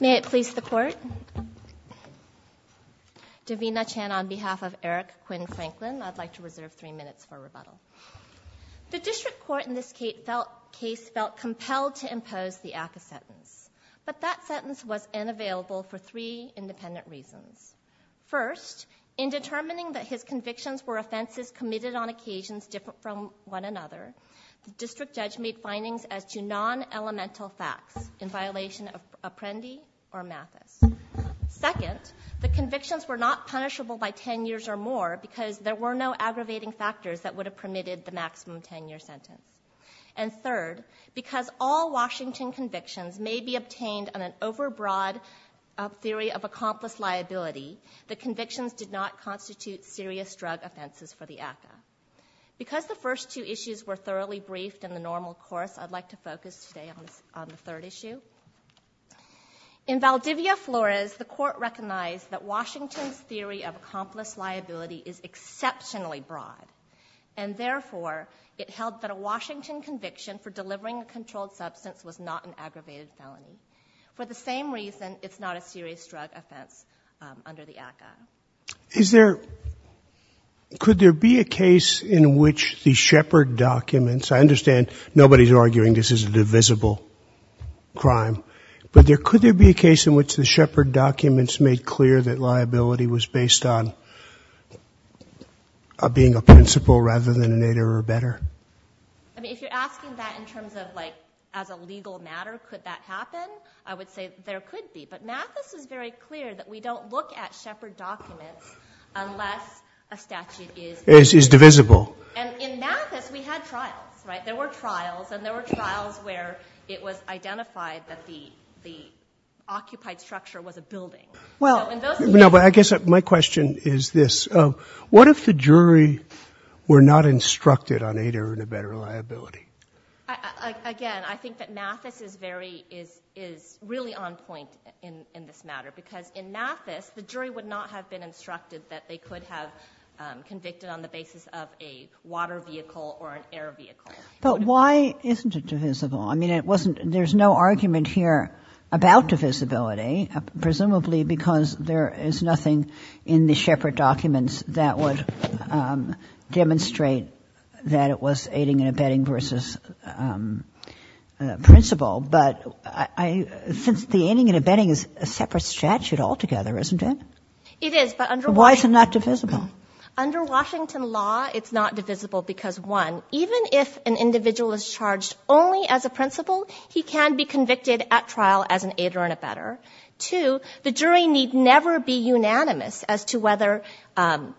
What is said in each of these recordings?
May it please the court. Davina Chan on behalf of Eric Quinn Franklin, I'd like to reserve three minutes for rebuttal. The district court in this case felt compelled to impose the ACCA sentence, but that sentence was unavailable for three independent reasons. First, in determining that his convictions were offenses committed on occasions different from one another, the district judge made findings as to non-elemental facts in violation of Apprendi or Mathis. Second, the convictions were not punishable by 10 years or more because there were no aggravating factors that would have permitted the maximum 10 year sentence. And third, because all Washington convictions may be obtained on an overbroad theory of accomplice liability, the convictions did not constitute serious drug offenses for the ACCA. Because the first two issues were thoroughly briefed in the normal course, I'd like to focus today on the third issue. In Valdivia Flores, the court recognized that Washington's theory of accomplice liability is exceptionally broad. And therefore, it held that a Washington conviction for delivering a controlled substance was not an aggravated felony. For the same reason, it's not a serious drug offense under the ACCA. Is there, could there be a case in which the Sheppard documents, I understand nobody's arguing this is a divisible crime, but could there be a case in which the Sheppard documents made clear that liability was based on being a principal rather than an aider or better? I mean, if you're asking that in terms of like, as a legal matter, could that happen? I would say there could be. But Mathis is very clear that we don't look at Sheppard documents unless a statute is divisible. And in Mathis, we had trials, right? There were trials and there were trials where it was identified that the occupied structure was a building. Well, no, but I guess my question is this. What if the jury were not instructed on aider and a better liability? Again, I think that Mathis is very, is really on point in this matter because in Mathis, the jury would not have been instructed that they could have convicted on the basis of a water vehicle or an air vehicle. But why isn't it divisible? I mean, it wasn't, there's no argument here about divisibility, presumably because there is nothing in the Sheppard documents that would demonstrate that it was aiding and abetting versus principal. But I, since the aiding and abetting is a separate statute altogether, isn't it? It is, but under Washington. Why is it not divisible? Under Washington law, it's not divisible because, one, even if an individual is charged only as a principal, he can be convicted at trial as an aider and abetter. Two, the jury need never be unanimous as to whether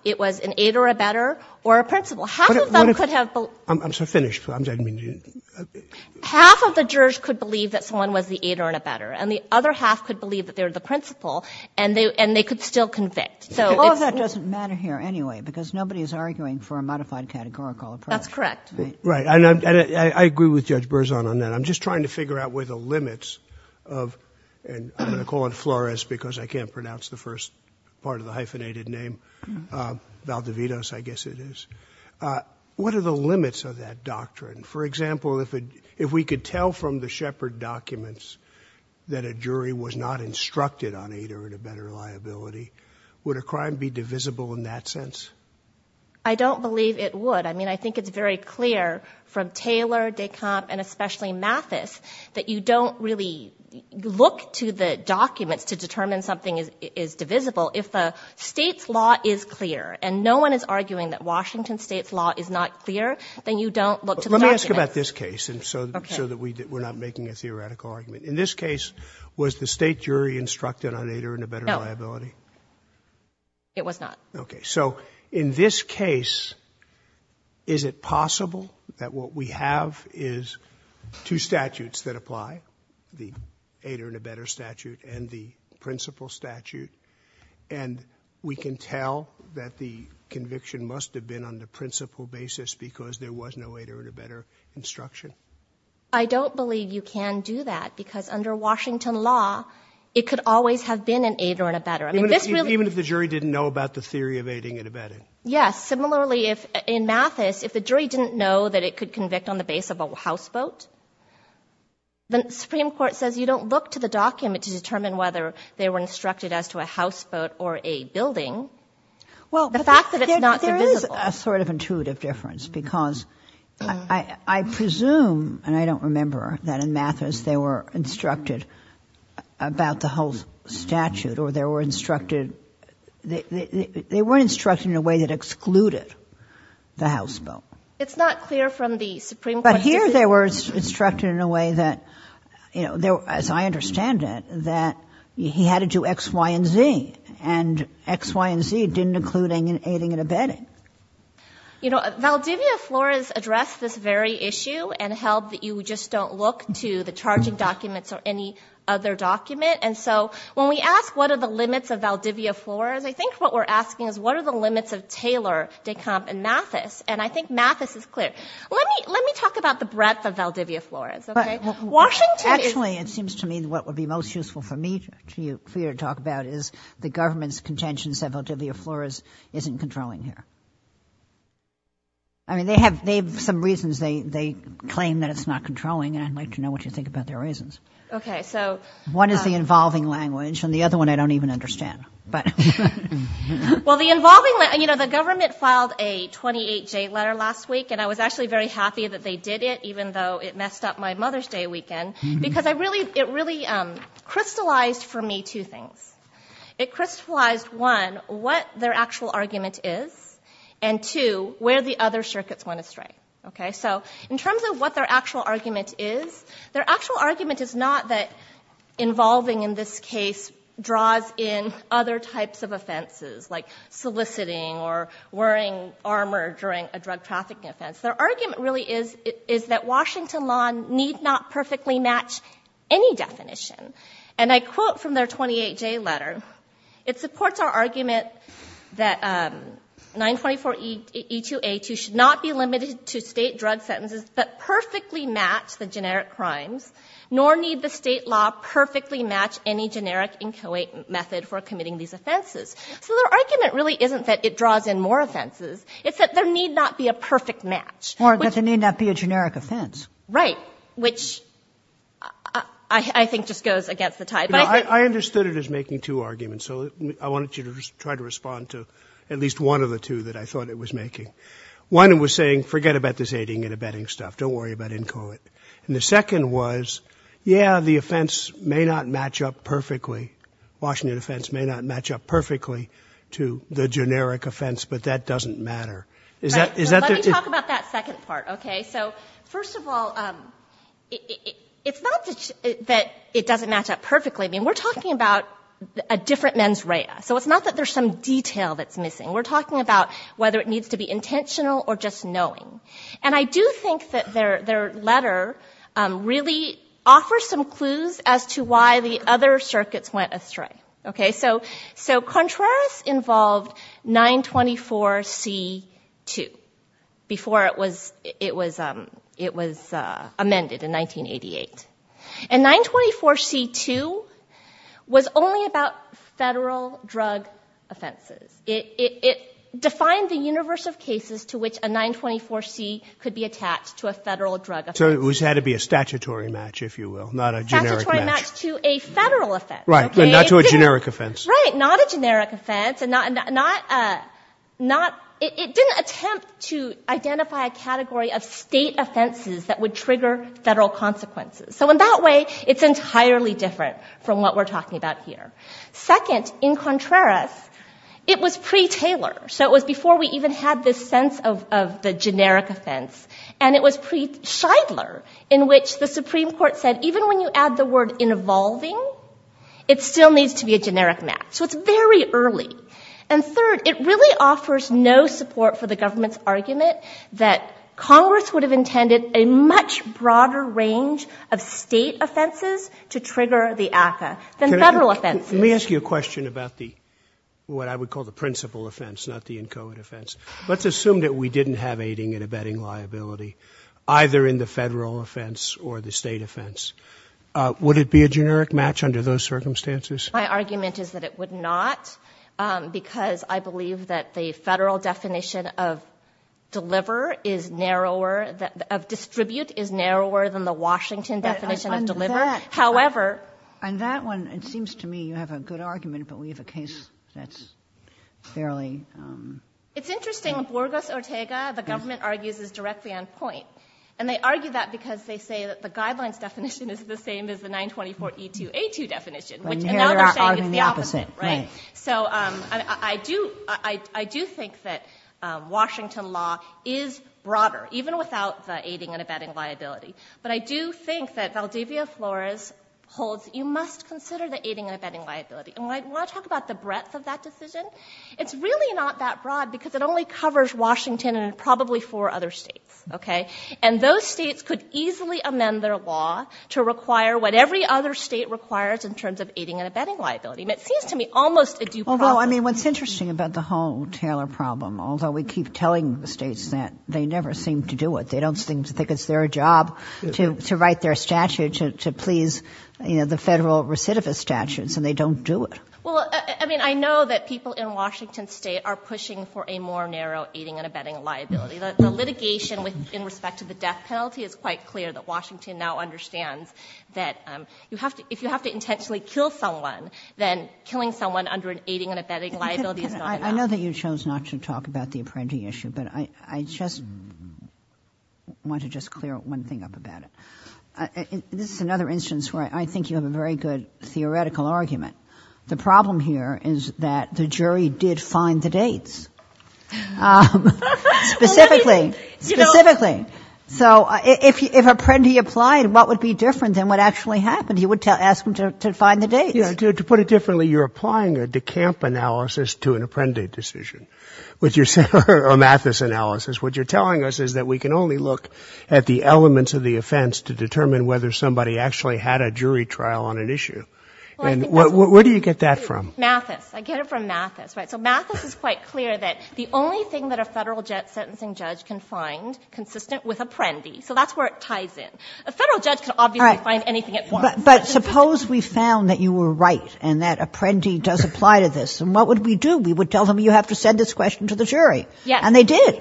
it was an aider, abetter, or a principal. Half of them could have. I'm so finished. I'm sorry, I didn't mean to. Half of the jurors could believe that someone was the aider and abetter. And the other half could believe that they're the principal, and they could still convict. All of that doesn't matter here, anyway, because nobody is arguing for a modified categorical approach. That's correct. Right, and I agree with Judge Berzon on that. I'm just trying to figure out where the limits of, and I'm going to call on Flores because I can't pronounce the first part of the hyphenated name, Valdevitos, I guess it is. What are the limits of that doctrine? For example, if we could tell from the Shepard documents that a jury was not instructed on aider and abetter liability, would a crime be divisible in that sense? I don't believe it would. I mean, I think it's very clear from Taylor, Decomp, and especially Mathis, that you don't really look to the documents to determine something is divisible. If the State's law is clear, and no one is arguing that Washington State's law is not clear, then you don't look to the documents. Let me ask you about this case, so that we're not making a theoretical argument. In this case, was the State jury instructed on aider and abetter liability? No, it was not. Okay, so in this case, is it possible that what we have is two statutes that apply? The aider and abetter statute and the principal statute. And we can tell that the conviction must have been on the principal basis, because there was no aider and abetter instruction. I don't believe you can do that, because under Washington law, it could always have been an aider and abetter. I mean, this really- Even if the jury didn't know about the theory of aiding and abetting. Yes, similarly, in Mathis, if the jury didn't know that it could convict on the base of a house vote, then the Supreme Court says you don't look to the document to determine whether they were instructed as to a house vote or a building. Well, there is a sort of intuitive difference, because I presume, and I don't remember, that in Mathis they were instructed about the whole statute, or they were instructed in a way that excluded the house vote. But here they were instructed in a way that, as I understand it, that he had to do X, Y, and Z. And X, Y, and Z didn't include aiding and abetting. Valdivia Flores addressed this very issue and held that you just don't look to the charging documents or any other document. And so when we ask what are the limits of Valdivia Flores, I think what we're asking is what are the limits of Taylor, Decomp, and Mathis? And I think Mathis is clear. Let me talk about the breadth of Valdivia Flores, okay? Washington is- Actually, it seems to me what would be most useful for you to talk about is the government's contentions that Valdivia Flores isn't controlling here. I mean, they have some reasons they claim that it's not controlling, and I'd like to know what you think about their reasons. Okay, so- One is the involving language, and the other one I don't even understand, but. Well, the involving language, the government filed a 28-J letter last week, and I was actually very happy that they did it, even though it messed up my Mother's Day weekend, because it really crystallized for me two things. It crystallized, one, what their actual argument is, and two, where the other circuits went astray, okay? So in terms of what their actual argument is, their actual argument is not that involving in this case draws in other types of offenses, like soliciting or wearing armor during a drug trafficking offense. Their argument really is that Washington law need not perfectly match any definition. And I quote from their 28-J letter. It supports our argument that 924E2A2 should not be limited to state drug sentences, but perfectly match the generic crimes, nor need the state law perfectly match any generic inchoate method for committing these offenses. So their argument really isn't that it draws in more offenses. It's that there need not be a perfect match. Or that there need not be a generic offense. Right, which I think just goes against the tide. I understood it as making two arguments, so I wanted you to try to respond to at least one of the two that I thought it was making. One was saying, forget about this aiding and abetting stuff. Don't worry about inchoate. And the second was, yeah, the offense may not match up perfectly. Washington offense may not match up perfectly to the generic offense, but that doesn't matter. Is that- Let me talk about that second part, okay? So first of all, it's not that it doesn't match up perfectly. I mean, we're talking about a different mens rea. So it's not that there's some detail that's missing. We're talking about whether it needs to be intentional or just knowing. And I do think that their letter really offers some clues as to why the other circuits went astray, okay? So Contreras involved 924C2 before it was amended in 1988. And 924C2 was only about federal drug offenses. It defined the universe of cases to which a 924C could be attached to a federal drug offense. So it had to be a statutory match, if you will, not a generic match. It had to be a statutory match to a federal offense, okay? Not to a generic offense. Right, not a generic offense. It didn't attempt to identify a category of state offenses that would trigger federal consequences. So in that way, it's entirely different from what we're talking about here. Second, in Contreras, it was pre-Taylor. So it was before we even had this sense of the generic offense. And it was pre-Shidler, in which the Supreme Court said, even when you add the word involving, it still needs to be a generic match. So it's very early. And third, it really offers no support for the government's argument that Congress would have intended a much broader range of state offenses to trigger the ACCA than federal offenses. Let me ask you a question about the, what I would call the principal offense, not the encoded offense. Let's assume that we didn't have aiding and abetting liability, either in the federal offense or the state offense. Would it be a generic match under those circumstances? My argument is that it would not, because I believe that the federal definition of deliver is narrower, of distribute is narrower than the Washington definition of deliver. However. On that one, it seems to me you have a good argument, but we have a case that's fairly. It's interesting. In Borges-Ortega, the government argues it's directly on point. And they argue that because they say that the guidelines definition is the same as the 924E2A2 definition, which now they're saying it's the opposite, right? So I do think that Washington law is broader, even without the aiding and abetting liability. But I do think that Valdivia Flores holds, you must consider the aiding and abetting liability. And when I talk about the breadth of that decision, it's really not that broad, because it only covers Washington and probably four other states, okay? And those states could easily amend their law to require what every other state requires in terms of aiding and abetting liability. And it seems to me almost a due process. Although, I mean, what's interesting about the whole Taylor problem, although we keep telling the states that they never seem to do it. They don't seem to think it's their job to write their statute to please the federal recidivist statutes, and they don't do it. Well, I mean, I know that people in Washington state are pushing for a more narrow aiding and abetting liability. The litigation in respect to the death penalty is quite clear that Washington now understands that if you have to intentionally kill someone, then killing someone under an aiding and abetting liability is not enough. I know that you chose not to talk about the apprentice issue, but I just want to just clear one thing up about it. This is another instance where I think you have a very good theoretical argument. The problem here is that the jury did find the dates. Specifically, specifically. So if apprendi applied, what would be different than what actually happened? You would ask them to find the dates. To put it differently, you're applying a decamp analysis to an apprendi decision. With your amethyst analysis, what you're telling us is that we can only look at the elements of the offense to determine whether somebody actually had a jury trial on an issue. And where do you get that from? Mathis. I get it from Mathis, right? So Mathis is quite clear that the only thing that a federal sentencing judge can find consistent with apprendi, so that's where it ties in. A federal judge can obviously find anything at once. But suppose we found that you were right and that apprendi does apply to this. And what would we do? We would tell them you have to send this question to the jury. Yes. And they did.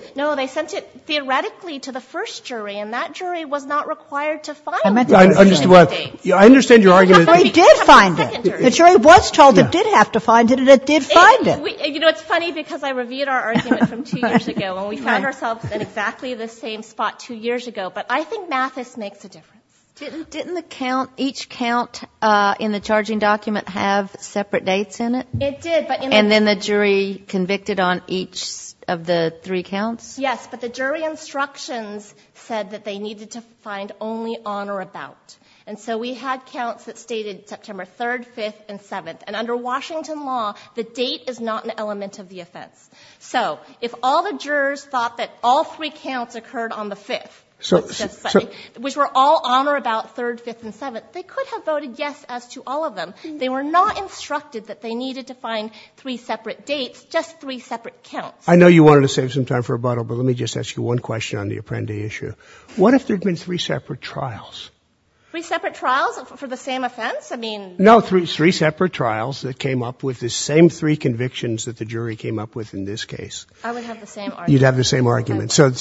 that jury was not required to find the dates. I understand your argument. The jury did find it. The jury was told it did have to find it and it did find it. You know, it's funny because I reviewed our argument from two years ago and we found ourselves in exactly the same spot two years ago. But I think Mathis makes a difference. Didn't the count, each count in the charging document have separate dates in it? It did. And then the jury convicted on each of the three counts? Yes, but the jury instructions said that they needed to find only on or about. And so we had counts that stated September 3rd, 5th, and 7th. And under Washington law, the date is not an element of the offense. So if all the jurors thought that all three counts occurred on the 5th, which were all on or about 3rd, 5th, and 7th, they could have voted yes as to all of them. They were not instructed that they needed to find three separate dates, just three separate counts. I know you wanted to save some time for rebuttal, but let me just ask you one question on the Apprendi issue. What if there had been three separate trials? Three separate trials for the same offense? No, three separate trials that came up with the same three convictions that the jury came up with in this case. I would have the same argument. You'd have the same argument. So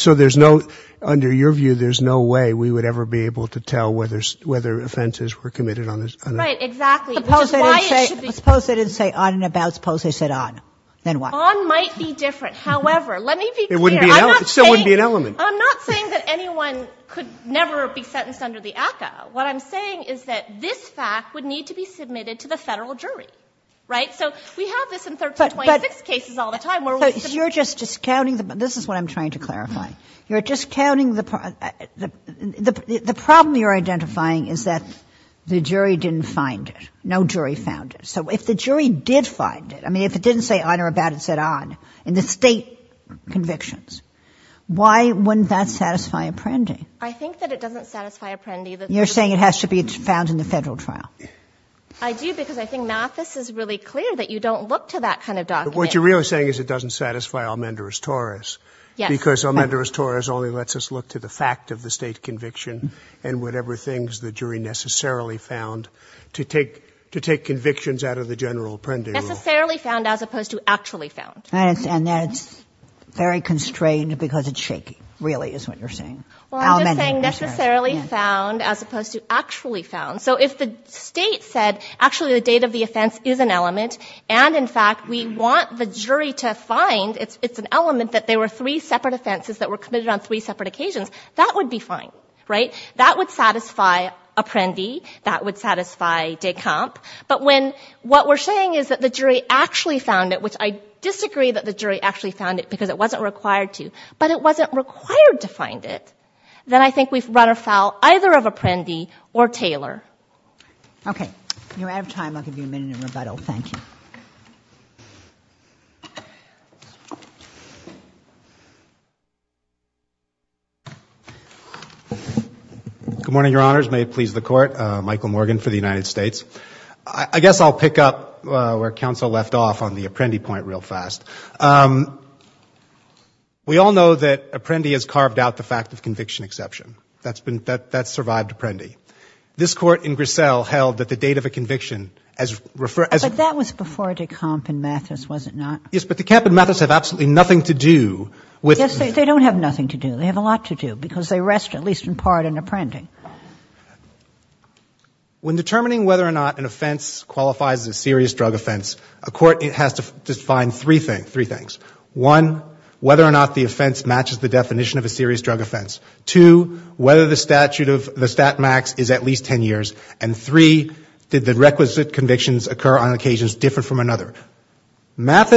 under your view, there's no way we would ever be able to tell whether offenses were committed on this. Right, exactly, which is why it should be- Suppose they didn't say on and about, suppose they said on, then what? On might be different. However, let me be clear. It still wouldn't be an element. I'm not saying that anyone could never be sentenced under the ACCA. What I'm saying is that this fact would need to be submitted to the Federal jury, right? So we have this in 1326 cases all the time where we submit- You're just discounting the- this is what I'm trying to clarify. You're discounting the- the problem you're identifying is that the jury didn't find it. No jury found it. So if the jury did find it, I mean, if it didn't say on or about, it said on, in the state convictions, why wouldn't that satisfy Apprendi? I think that it doesn't satisfy Apprendi that- You're saying it has to be found in the Federal trial. I do, because I think Mathis is really clear that you don't look to that kind of document. What you're really saying is it doesn't satisfy Almenderis-Torres, because Almenderis-Torres only lets us look to the fact of the state conviction and whatever things the jury necessarily found to take convictions out of the general Apprendi rule. Necessarily found as opposed to actually found. And that's very constrained because it's shaky, really, is what you're saying. Well, I'm just saying necessarily found as opposed to actually found. So if the state said, actually, the date of the offense is an element, and in fact, we want the jury to find it's an element that there were three separate offenses that were committed on three separate occasions, that would be fine, right? That would satisfy Apprendi, that would satisfy de Camp, but when what we're saying is that the jury actually found it, which I disagree that the jury actually found it because it wasn't required to, but it wasn't required to find it. Then I think we've run afoul either of Apprendi or Taylor. Okay, you're out of time, I'll give you a minute in rebuttal, thank you. Good morning, your honors, may it please the court, Michael Morgan for the United States. I guess I'll pick up where counsel left off on the Apprendi point real fast. We all know that Apprendi has carved out the fact of conviction exception, that's survived Apprendi. This court in Grissel held that the date of a conviction as referred- But that was before de Camp and Mathis, was it not? Yes, but de Camp and Mathis have absolutely nothing to do with- Yes, they don't have nothing to do, they have a lot to do, because they rest at least in part in Apprendi. When determining whether or not an offense qualifies as a serious drug offense, a court has to define three things. One, whether or not the offense matches the definition of a serious drug offense. Two, whether the statute of the stat max is at least ten years. And three, did the requisite convictions occur on occasions different from another? It's not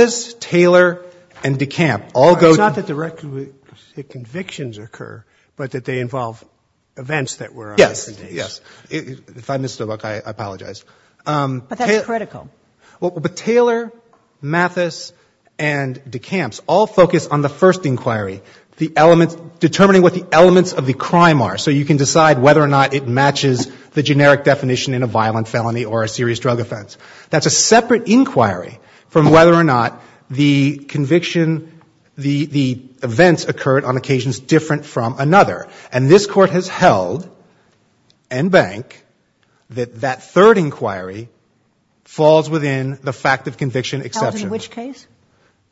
that the requisite convictions occur, but that they involve events that were on different days. Yes, yes. If I missed a book, I apologize. But that's critical. But Taylor, Mathis, and de Camps all focus on the first inquiry, determining what the elements of the crime are, so you can decide whether or not it matches the generic definition in a violent felony or a serious drug offense. That's a separate inquiry from whether or not the conviction, the events occurred on occasions different from another. And this Court has held, and Bank, that that third inquiry falls within the fact of conviction exception. Held in which case?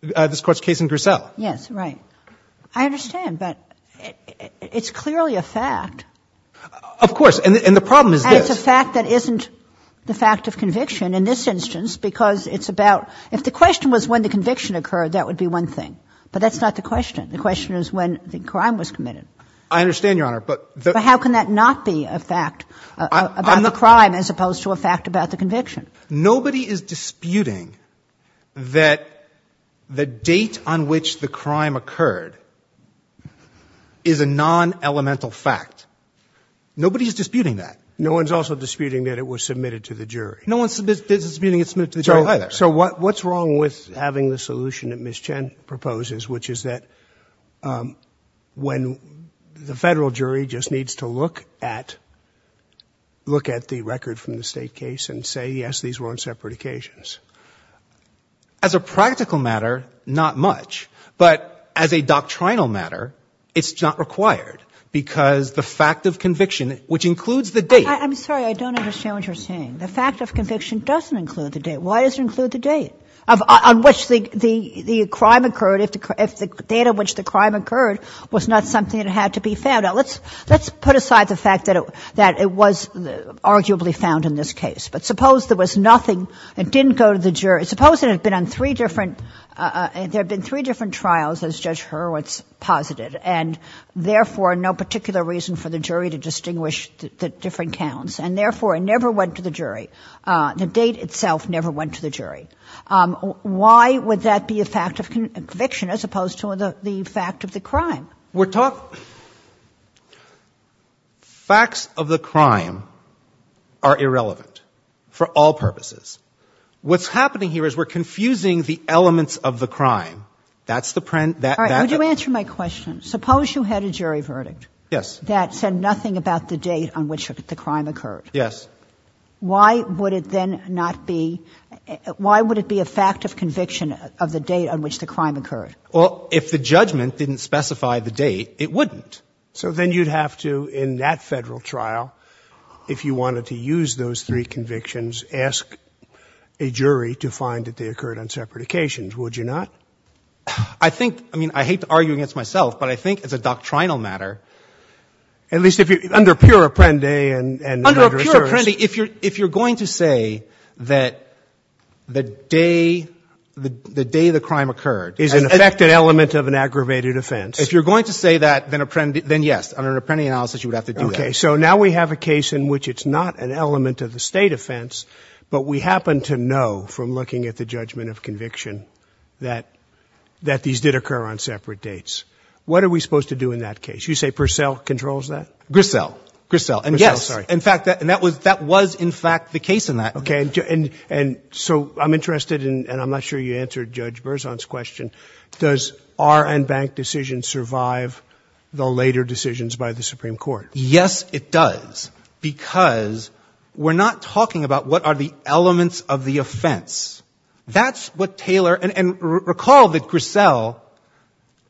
This Court's case in Grissel. Yes, right. I understand, but it's clearly a fact. Of course, and the problem is this. It's a fact that isn't the fact of conviction in this instance, because it's about — if the question was when the conviction occurred, that would be one thing. But that's not the question. The question is when the crime was committed. I understand, Your Honor, but the — But how can that not be a fact about the crime as opposed to a fact about the conviction? Nobody is disputing that the date on which the crime occurred is a non-elemental fact. Nobody is disputing that. No one is also disputing that it was submitted to the jury. No one is disputing it was submitted to the jury either. So what's wrong with having the solution that Ms. Chen proposes, which is that when the Federal jury just needs to look at the record from the State case and say, yes, these were on separate occasions? As a practical matter, not much. But as a doctrinal matter, it's not required, because the fact of conviction, which includes the date — I'm sorry. I don't understand what you're saying. The fact of conviction doesn't include the date. Why does it include the date on which the crime occurred if the date on which the crime occurred was not something that had to be found? Now, let's put aside the fact that it was arguably found in this case. But suppose there was nothing. It didn't go to the jury. Suppose it had been on three different — there had been three different trials, as Judge Hurwitz posited, and therefore no particular reason for the jury to distinguish the different counts, and therefore it never went to the jury. The date itself never went to the jury. Why would that be a fact of conviction as opposed to the fact of the crime? We're talking — facts of the crime are irrelevant for all purposes. What's happening here is we're confusing the elements of the crime. That's the — All right. Would you answer my question? Suppose you had a jury verdict. Yes. That said nothing about the date on which the crime occurred. Yes. Why would it then not be — why would it be a fact of conviction of the date on which the crime occurred? Well, if the judgment didn't specify the date, it wouldn't. So then you'd have to, in that Federal trial, if you wanted to use those three convictions, ask a jury to find that they occurred on separate occasions, would you not? I think — I mean, I hate to argue against myself, but I think as a doctrinal matter — At least if you — under pure Apprendi and — Under pure Apprendi, if you're going to say that the day — the day the crime occurred — Is an affected element of an aggravated offense. If you're going to say that, then yes. Under an Apprendi analysis, you would have to do that. Okay. So now we have a case in which it's not an element of the state offense, but we happen to know from looking at the judgment of conviction that these did occur on separate dates. What are we supposed to do in that case? You say Purcell controls that? Grissel. Grissel. And yes. In fact, that was in fact the case in that. Okay. And so I'm interested in — and I'm not sure you answered Judge Berzon's question — Does R. N. Bank decision survive the later decisions by the Supreme Court? Yes, it does. Because we're not talking about what are the elements of the offense. That's what Taylor — and recall that Grissel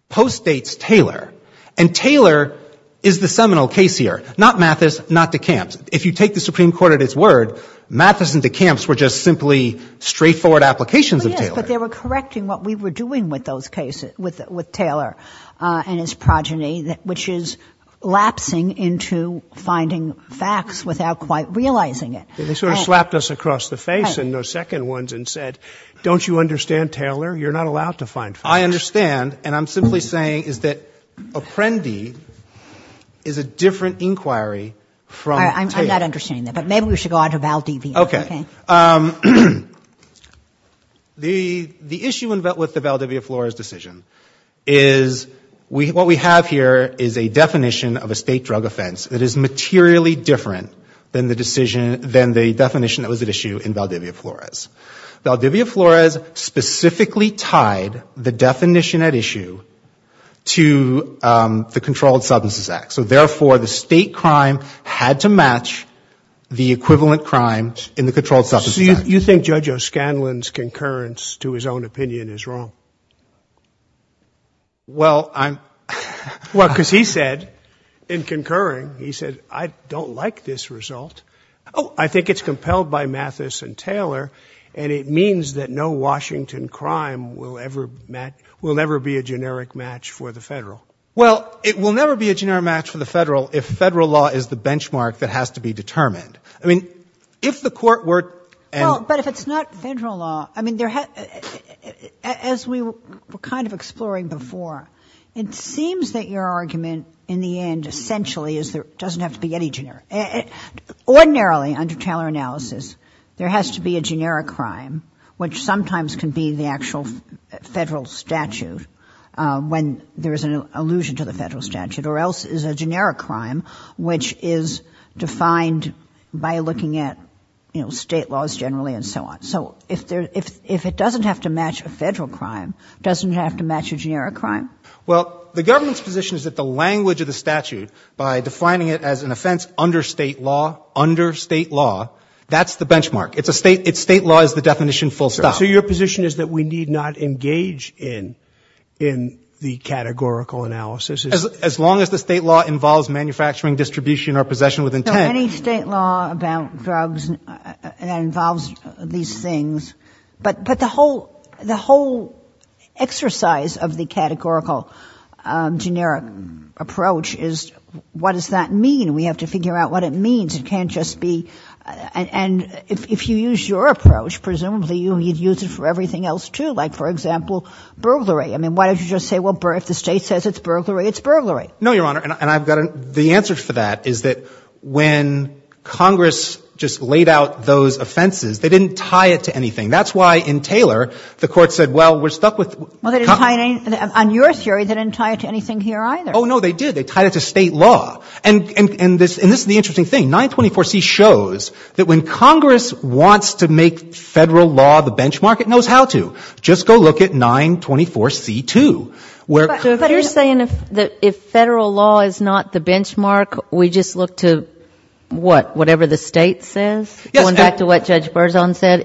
postdates Taylor. And Taylor is the seminal case here. Not Mathis, not DeKalb. If you take the Supreme Court at its word, Mathis and DeKalb were just simply straightforward applications of Taylor. But they were correcting what we were doing with those cases, with Taylor and his progeny, which is lapsing into finding facts without quite realizing it. They sort of slapped us across the face in those second ones and said, don't you understand, Taylor? You're not allowed to find facts. I understand. And I'm simply saying is that Apprendi is a different inquiry from — I'm not understanding that, but maybe we should go on to Valdivia. OK. The issue with the Valdivia Flores decision is what we have here is a definition of a state drug offense that is materially different than the decision — than the definition that was at issue in Valdivia Flores. Valdivia Flores specifically tied the definition at issue to the Controlled Substances Act. So therefore, the state crime had to match the equivalent crime in the Controlled Substances Act. You think Judge O'Scanlan's concurrence to his own opinion is wrong? Well, I'm — Well, because he said in concurring, he said, I don't like this result. Oh, I think it's compelled by Mathis and Taylor. And it means that no Washington crime will ever — will never be a generic match for the federal. Well, it will never be a generic match for the federal if federal law is the benchmark that has to be determined. I mean, if the court were — Well, but if it's not federal law, I mean, there — as we were kind of exploring before, it seems that your argument in the end essentially is there doesn't have to be any generic. Ordinarily, under Taylor analysis, there has to be a generic crime, which sometimes can be the actual federal statute when there is an allusion to the federal statute. Or else it's a generic crime, which is defined by looking at, you know, state laws generally and so on. So if there — if it doesn't have to match a federal crime, doesn't it have to match a generic crime? Well, the government's position is that the language of the statute, by defining it as an offense under state law, under state law, that's the benchmark. It's a state — state law is the definition full stop. So your position is that we need not engage in the categorical analysis? As long as the state law involves manufacturing, distribution, or possession with intent — No, any state law about drugs that involves these things — but the whole exercise of the categorical generic approach is what does that mean? We have to figure out what it means. It can't just be — And if you use your approach, presumably you'd use it for everything else, too. Like, for example, burglary. I mean, why don't you just say, well, if the state says it's burglary, it's burglary? No, Your Honor. And I've got — the answer for that is that when Congress just laid out those offenses, they didn't tie it to anything. That's why in Taylor, the Court said, well, we're stuck with — Well, they didn't tie it — on your theory, they didn't tie it to anything here either. Oh, no, they did. They tied it to state law. And this is the interesting thing. 924C shows that when Congress wants to make federal law the benchmark, it knows how to. Just go look at 924C-2, where — But you're saying that if federal law is not the benchmark, we just look to what? Whatever the state says? Yes. Going back to what Judge Berzon said,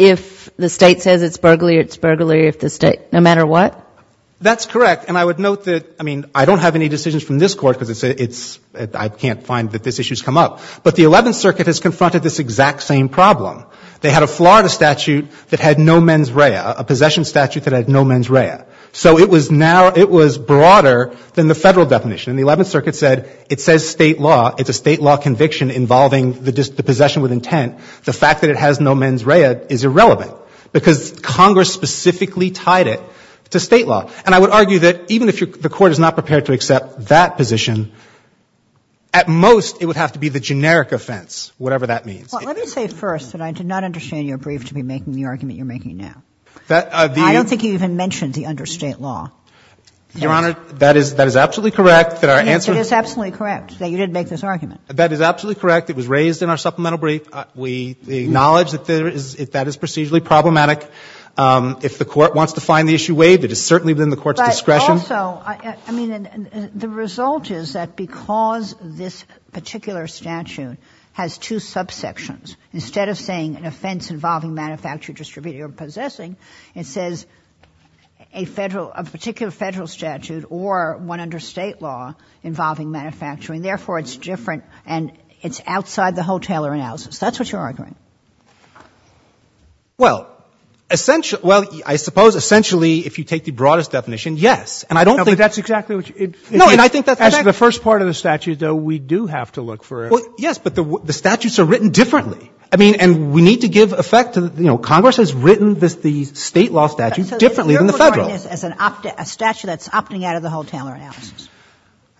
if the state says it's burglary, it's burglary if the state — no matter what? That's correct. And I would note that — I mean, I don't have any decisions from this Court because it's — I can't find that this issue's come up. But the Eleventh Circuit has confronted this exact same problem. They had a Florida statute that had no mens rea, a possession statute that had no mens rea. So it was now — it was broader than the federal definition. And the Eleventh Circuit said it says state law. It's a state law conviction involving the possession with intent. The fact that it has no mens rea is irrelevant because Congress specifically tied it to state law. And I would argue that even if the Court is not prepared to accept that position, at most it would have to be the generic offense, whatever that means. Well, let me say first that I did not understand your brief to be making the argument you're making now. That the — I don't think you even mentioned the understate law. Your Honor, that is — that is absolutely correct that our answer — Yes, it is absolutely correct that you didn't make this argument. That is absolutely correct. It was raised in our supplemental brief. We acknowledge that there is — that is procedurally problematic. If the Court wants to find the issue waived, it is certainly within the Court's discretion. But also, I mean, the result is that because this particular statute has two subsections, instead of saying an offense involving manufactured, distributed, or possessing, it says a federal — a particular federal statute or one under state law involving manufacturing, therefore it's different and it's outside the Hoteller analysis. That's what you're arguing. Well, essentially — well, I suppose essentially if you take the broadest definition, yes, and I don't think — No, but that's exactly what you — No, and I think that's — As the first part of the statute, though, we do have to look for — Well, yes, but the — the statutes are written differently. I mean, and we need to give effect to the — you know, Congress has written the state law statute differently than the federal. So you're referring to this as an — a statute that's opting out of the Hoteller analysis.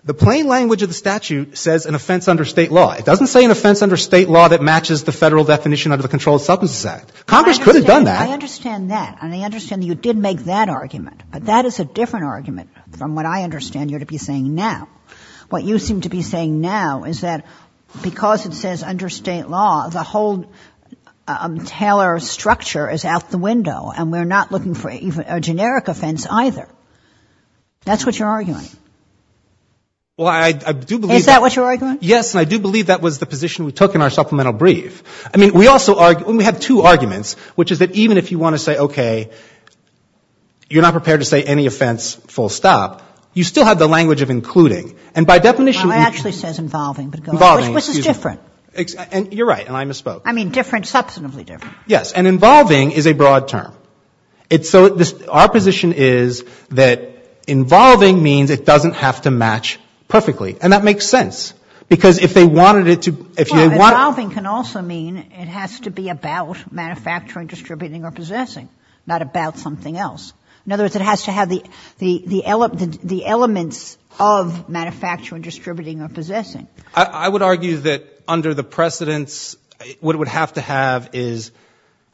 The plain language of the statute says an offense under state law. It doesn't say an offense under state law that matches the federal definition under the Controlled Substances Act. Congress could have done that. I understand that. And I understand that you did make that argument. But that is a different argument from what I understand you're to be saying now. What you seem to be saying now is that because it says under state law, the whole Taylor structure is out the window and we're not looking for even a generic offense either. Well, I do believe — Is that what you're arguing? Yes, and I do believe that was the position we took in our supplemental brief. I mean, we also — and we have two arguments, which is that even if you want to say, okay, you're not prepared to say any offense full stop, you still have the language of including. And by definition — Well, it actually says involving, but go ahead. Involving, excuse me. Which is different. And you're right, and I misspoke. I mean, different — substantively different. Yes. And involving is a broad term. It's so — our position is that involving means it doesn't have to match perfectly. And that makes sense. Because if they wanted it to — Well, involving can also mean it has to be about manufacturing, distributing, or possessing, not about something else. In other words, it has to have the elements of manufacturing, distributing, or possessing. I would argue that under the precedents, what it would have to have is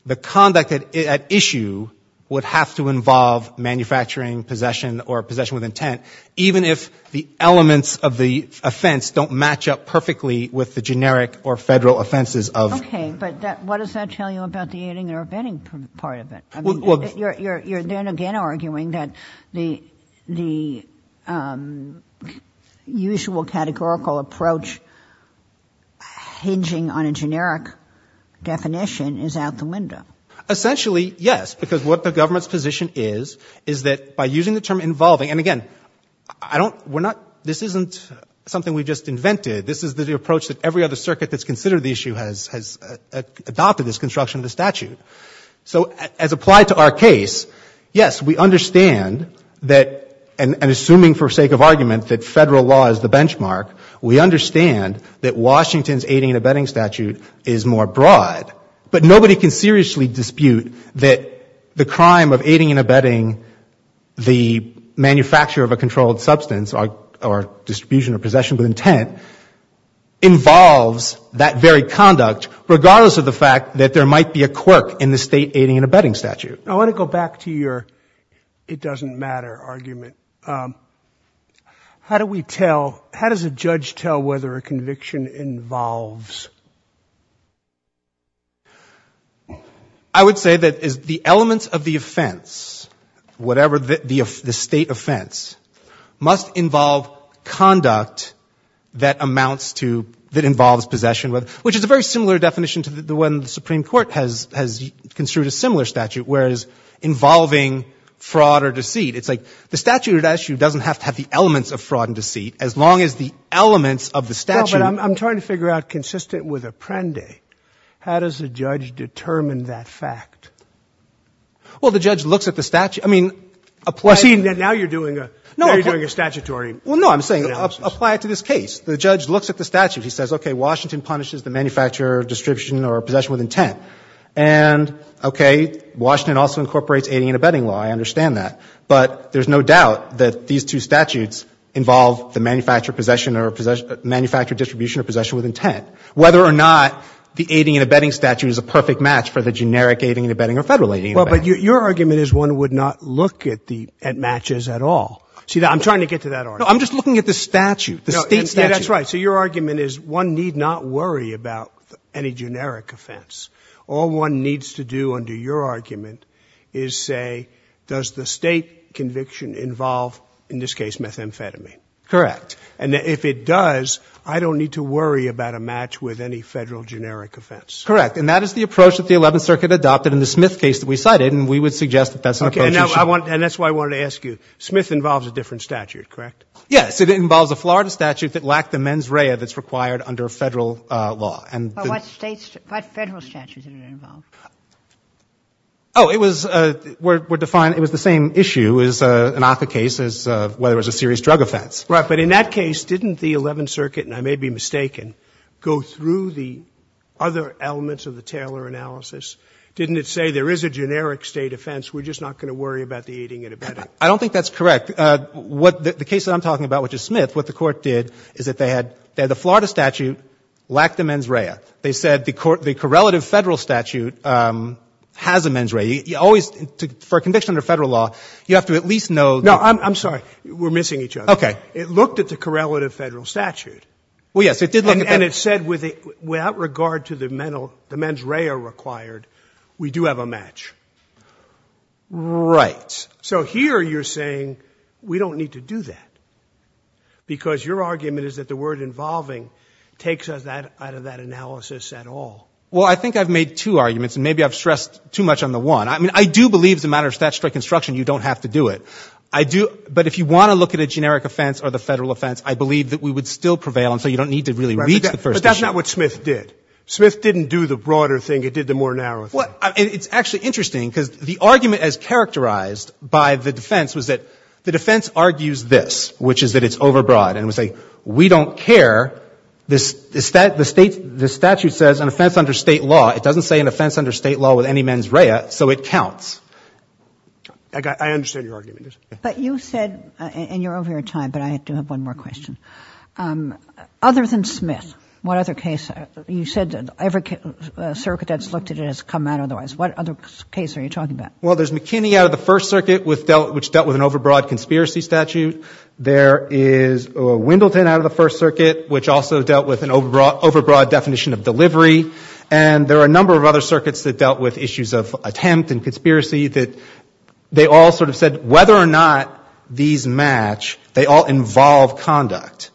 the conduct at issue would have to involve manufacturing, possession, or possession with intent, even if the elements of the offense don't match up perfectly with the generic or federal offenses of — Okay. But what does that tell you about the aiding or abetting part of it? I mean, you're then again arguing that the usual categorical approach hinging on a generic definition is out the window. Essentially, yes. Because what the government's position is, is that by using the term involving — And again, I don't — we're not — this isn't something we just invented. This is the approach that every other circuit that's considered the issue has adopted this construction of the statute. So as applied to our case, yes, we understand that — and assuming for sake of argument that federal law is the benchmark, we understand that Washington's aiding and abetting statute is more broad. But nobody can seriously dispute that the crime of aiding and abetting the manufacture of a controlled substance or distribution or possession with intent involves that very conduct, regardless of the fact that there might be a quirk in the state aiding and abetting statute. I want to go back to your it-doesn't-matter argument. How do we tell — how does a judge tell whether a conviction involves? I would say that the elements of the offense, whatever the state offense, must involve conduct that amounts to — that involves possession, which is a very similar definition to the one the Supreme Court has construed a similar statute, whereas involving fraud or deceit, it's like the statute, it actually doesn't have to have the elements of fraud and deceit, as long as the elements of the statute — With Apprendi, how does a judge determine that fact? Well, the judge looks at the statute. I mean, now you're doing a statutory — Well, no, I'm saying apply it to this case. The judge looks at the statute. He says, OK, Washington punishes the manufacture, distribution or possession with intent. And, OK, Washington also incorporates aiding and abetting law. I understand that. But there's no doubt that these two statutes involve the manufacture, possession or — manufacture, distribution or possession with intent, whether or not the aiding and abetting statute is a perfect match for the generic aiding and abetting or Federal aiding and abetting. Well, but your argument is one would not look at the — at matches at all. See, I'm trying to get to that argument. No, I'm just looking at the statute, the state statute. No, that's right. So your argument is one need not worry about any generic offense. All one needs to do under your argument is say, does the State conviction involve, in this case, methamphetamine? Correct. And if it does, I don't need to worry about a match with any Federal generic offense. Correct. And that is the approach that the Eleventh Circuit adopted in the Smith case that we cited. And we would suggest that that's an approach you should — OK. And I want — and that's why I wanted to ask you. Smith involves a different statute, correct? Yes. It involves a Florida statute that lacked the mens rea that's required under Federal law. And — But what State — what Federal statute did it involve? Oh, it was — we're — we're defining — it was the same issue as an ACCA case, as whether it was a serious drug offense. Right. But in that case, didn't the Eleventh Circuit — and I may be mistaken — go through the other elements of the Taylor analysis? Didn't it say, there is a generic State offense, we're just not going to worry about the eating and abetting? I don't think that's correct. What — the case that I'm talking about, which is Smith, what the Court did is that they had — the Florida statute lacked the mens rea. They said the correlative Federal statute has a mens rea. You always — for a conviction under Federal law, you have to at least know — No, I'm sorry. We're missing each other. OK. It looked at the correlative Federal statute. Well, yes, it did look at that. And it said, without regard to the mental — the mens rea required, we do have a match. Right. So here you're saying, we don't need to do that, because your argument is that the word involving takes us out of that analysis at all. Well, I think I've made two arguments, and maybe I've stressed too much on the one. I mean, I do believe, as a matter of statutory construction, you don't have to do it. I do — but if you want to look at a generic offense or the Federal offense, I believe that we would still prevail, and so you don't need to really reach the first issue. But that's not what Smith did. Smith didn't do the broader thing. It did the more narrow thing. Well, it's actually interesting, because the argument as characterized by the defense was that the defense argues this, which is that it's overbroad. And it would say, we don't care. This — the statute says, an offense under State law — it doesn't say an offense under State law with any mens rea, so it counts. I understand your argument. But you said — and you're over your time, but I do have one more question. Other than Smith, what other case — you said every circuit that's looked at it has come out otherwise. What other case are you talking about? Well, there's McKinney out of the First Circuit, which dealt with an overbroad conspiracy statute. There is — or Wendleton out of the First Circuit, which also dealt with an overbroad definition of delivery. And there are a number of other circuits that dealt with issues of attempt and conspiracy that they all sort of said, whether or not these match, they all involve conduct.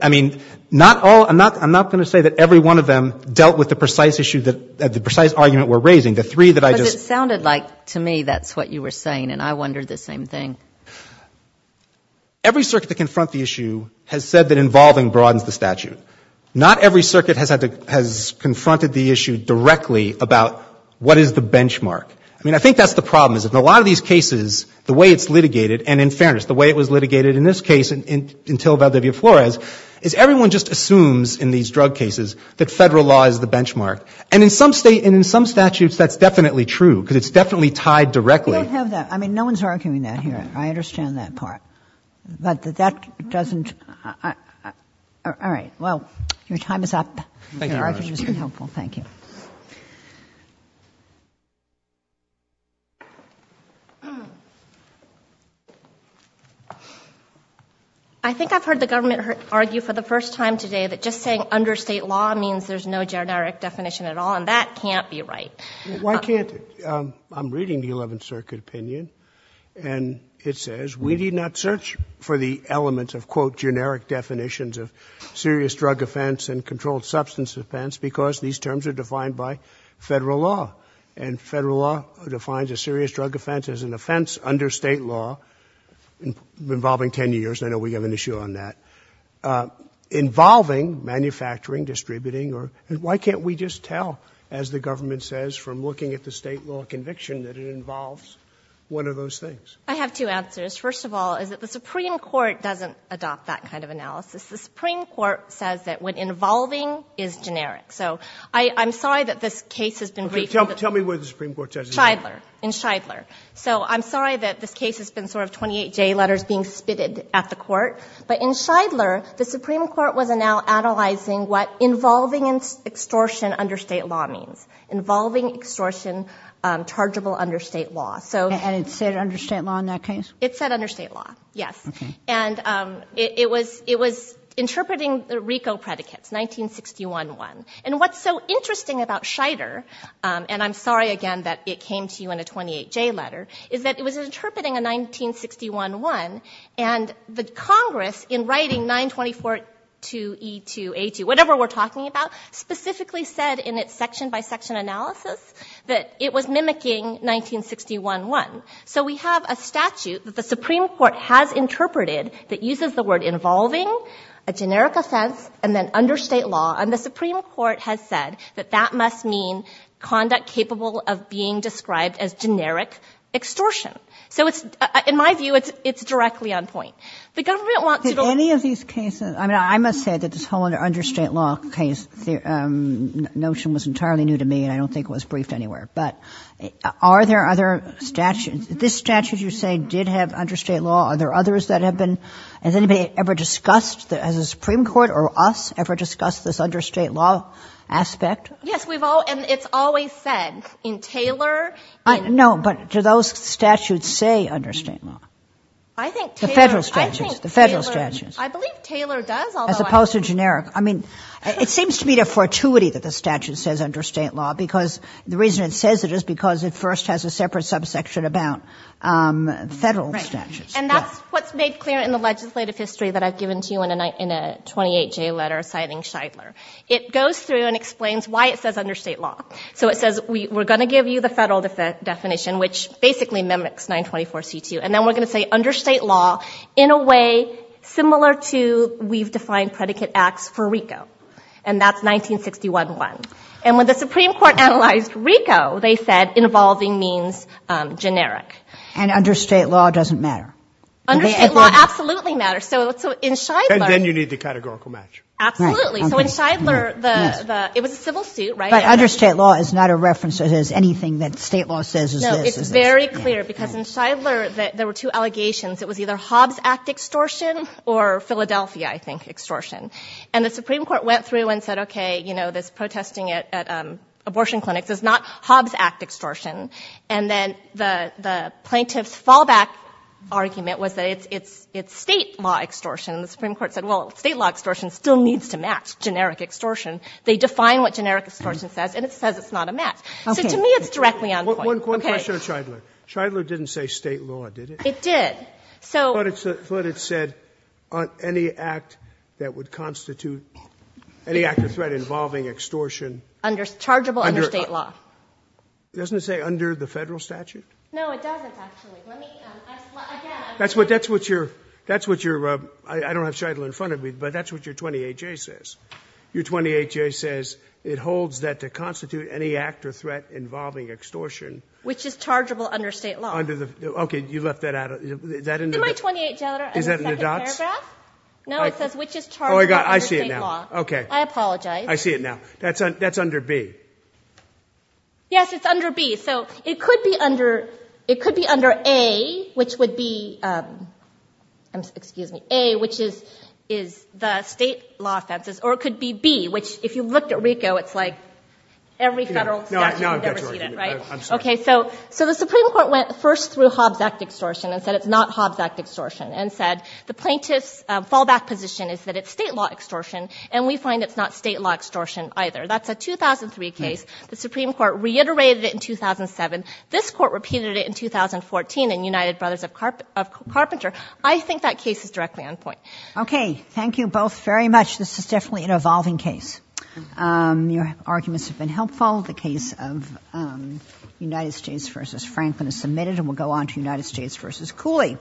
I mean, not all — I'm not going to say that every one of them dealt with the precise issue that — the precise argument we're raising. The three that I just — But it sounded like, to me, that's what you were saying, and I wondered the same thing. Every circuit that confront the issue has said that involving broadens the statute. Not every circuit has had to — has confronted the issue directly about what is the benchmark. I mean, I think that's the problem, is that in a lot of these cases, the way it's litigated — and in fairness, the way it was litigated in this case until Valdivia Flores — is everyone just assumes, in these drug cases, that Federal law is the benchmark. And in some — and in some statutes, that's definitely true, because it's definitely tied directly — We don't have that. I mean, no one's arguing that here. I understand that part. But that doesn't — all right. Well, your time is up. Your argument has been helpful. Thank you. I think I've heard the government argue for the first time today that just saying under State law means there's no generic definition at all, and that can't be right. Well, why can't — I'm reading the Eleventh Circuit opinion, and it says, we need not search for the elements of, quote, generic definitions of serious drug offense and that are defined by Federal law. And Federal law defines a serious drug offense as an offense under State law involving 10 years. I know we have an issue on that. Involving manufacturing, distributing, or — why can't we just tell, as the government says from looking at the State law conviction, that it involves one of those things? I have two answers. First of all, is that the Supreme Court doesn't adopt that kind of analysis. The Supreme Court says that when involving is generic. So I'm sorry that this case has been briefed. Tell me where the Supreme Court says it's not. In Shidler. In Shidler. So I'm sorry that this case has been sort of 28-J letters being spitted at the Court. But in Shidler, the Supreme Court was now analyzing what involving extortion under State law means. Involving extortion, chargeable under State law. So — And it said under State law in that case? It said under State law. Yes. Okay. And it was interpreting the RICO predicates, 1961-1. And what's so interesting about Shidler, and I'm sorry again that it came to you in a 28-J letter, is that it was interpreting a 1961-1, and the Congress, in writing 924-2E2A2, whatever we're talking about, specifically said in its section-by-section analysis that it was mimicking 1961-1. So we have a statute that the Supreme Court has interpreted that uses the word involving, a generic offense, and then under State law. And the Supreme Court has said that that must mean conduct capable of being described as generic extortion. So it's — in my view, it's directly on point. The government wants to — Did any of these cases — I mean, I must say that this whole under State law case notion was entirely new to me, and I don't think it was briefed anywhere. But are there other statutes — this statute, you say, did have under State law. Are there others that have been — has anybody ever discussed — has the Supreme Court or us ever discussed this under State law aspect? Yes, we've all — and it's always said in Taylor — No, but do those statutes say under State law? I think Taylor — The federal statutes. I think Taylor — The federal statutes. I believe Taylor does, although — As opposed to generic. I mean, it seems to me a fortuity that the statute says under State law, because the reason it says it is because it first has a separate subsection about federal statutes. And that's what's made clear in the legislative history that I've given to you in a 28J letter citing Shidler. It goes through and explains why it says under State law. So it says, we're going to give you the federal definition, which basically mimics 924C2, and then we're going to say under State law in a way similar to we've defined predicate acts for RICO. And that's 1961-1. And when the Supreme Court analyzed RICO, they said involving means generic. And under State law doesn't matter? Under State law absolutely matters. So in Shidler — And then you need the categorical match. Absolutely. So in Shidler, it was a civil suit, right? But under State law is not a reference that has anything that State law says is this. No, it's very clear. Because in Shidler, there were two allegations. It was either Hobbs Act extortion or Philadelphia, I think, extortion. And the Supreme Court went through and said, OK, you know, this protesting at abortion clinics is not Hobbs Act extortion. And then the plaintiff's fallback argument was that it's State law extortion. And the Supreme Court said, well, State law extortion still needs to match generic extortion. They define what generic extortion says, and it says it's not a match. So to me, it's directly on point. One question on Shidler. Shidler didn't say State law, did it? It did. But it said any act that would constitute — any act or threat involving extortion. Under — chargeable under State law. Doesn't it say under the federal statute? No, it doesn't, actually. Let me — again — That's what — that's what your — that's what your — I don't have Shidler in front of me, but that's what your 28J says. Your 28J says it holds that to constitute any act or threat involving extortion. Which is chargeable under State law. Under the — OK, you left that out. Is that in the — In my 28 — Is that in the dots? No, it says which is chargeable under State law. Oh, I see it now. OK. I apologize. I see it now. That's under — that's under B. Yes, it's under B. So it could be under — it could be under A, which would be — I'm — excuse me. A, which is — is the State law offenses. Or it could be B, which, if you looked at RICO, it's like every federal statute. No, I've got you. You've never seen it, right? I'm sorry. OK. So the Supreme Court went first through Hobbs Act extortion and said it's not Hobbs Act extortion. And said the plaintiff's fallback position is that it's State law extortion. And we find it's not State law extortion either. That's a 2003 case. The Supreme Court reiterated it in 2007. This Court repeated it in 2014 in United Brothers of Carpenter. I think that case is directly on point. OK. Thank you both very much. This is definitely an evolving case. Your arguments have been helpful. The case of United States v. Franklin is submitted. And we'll go on to United States v. Cooley.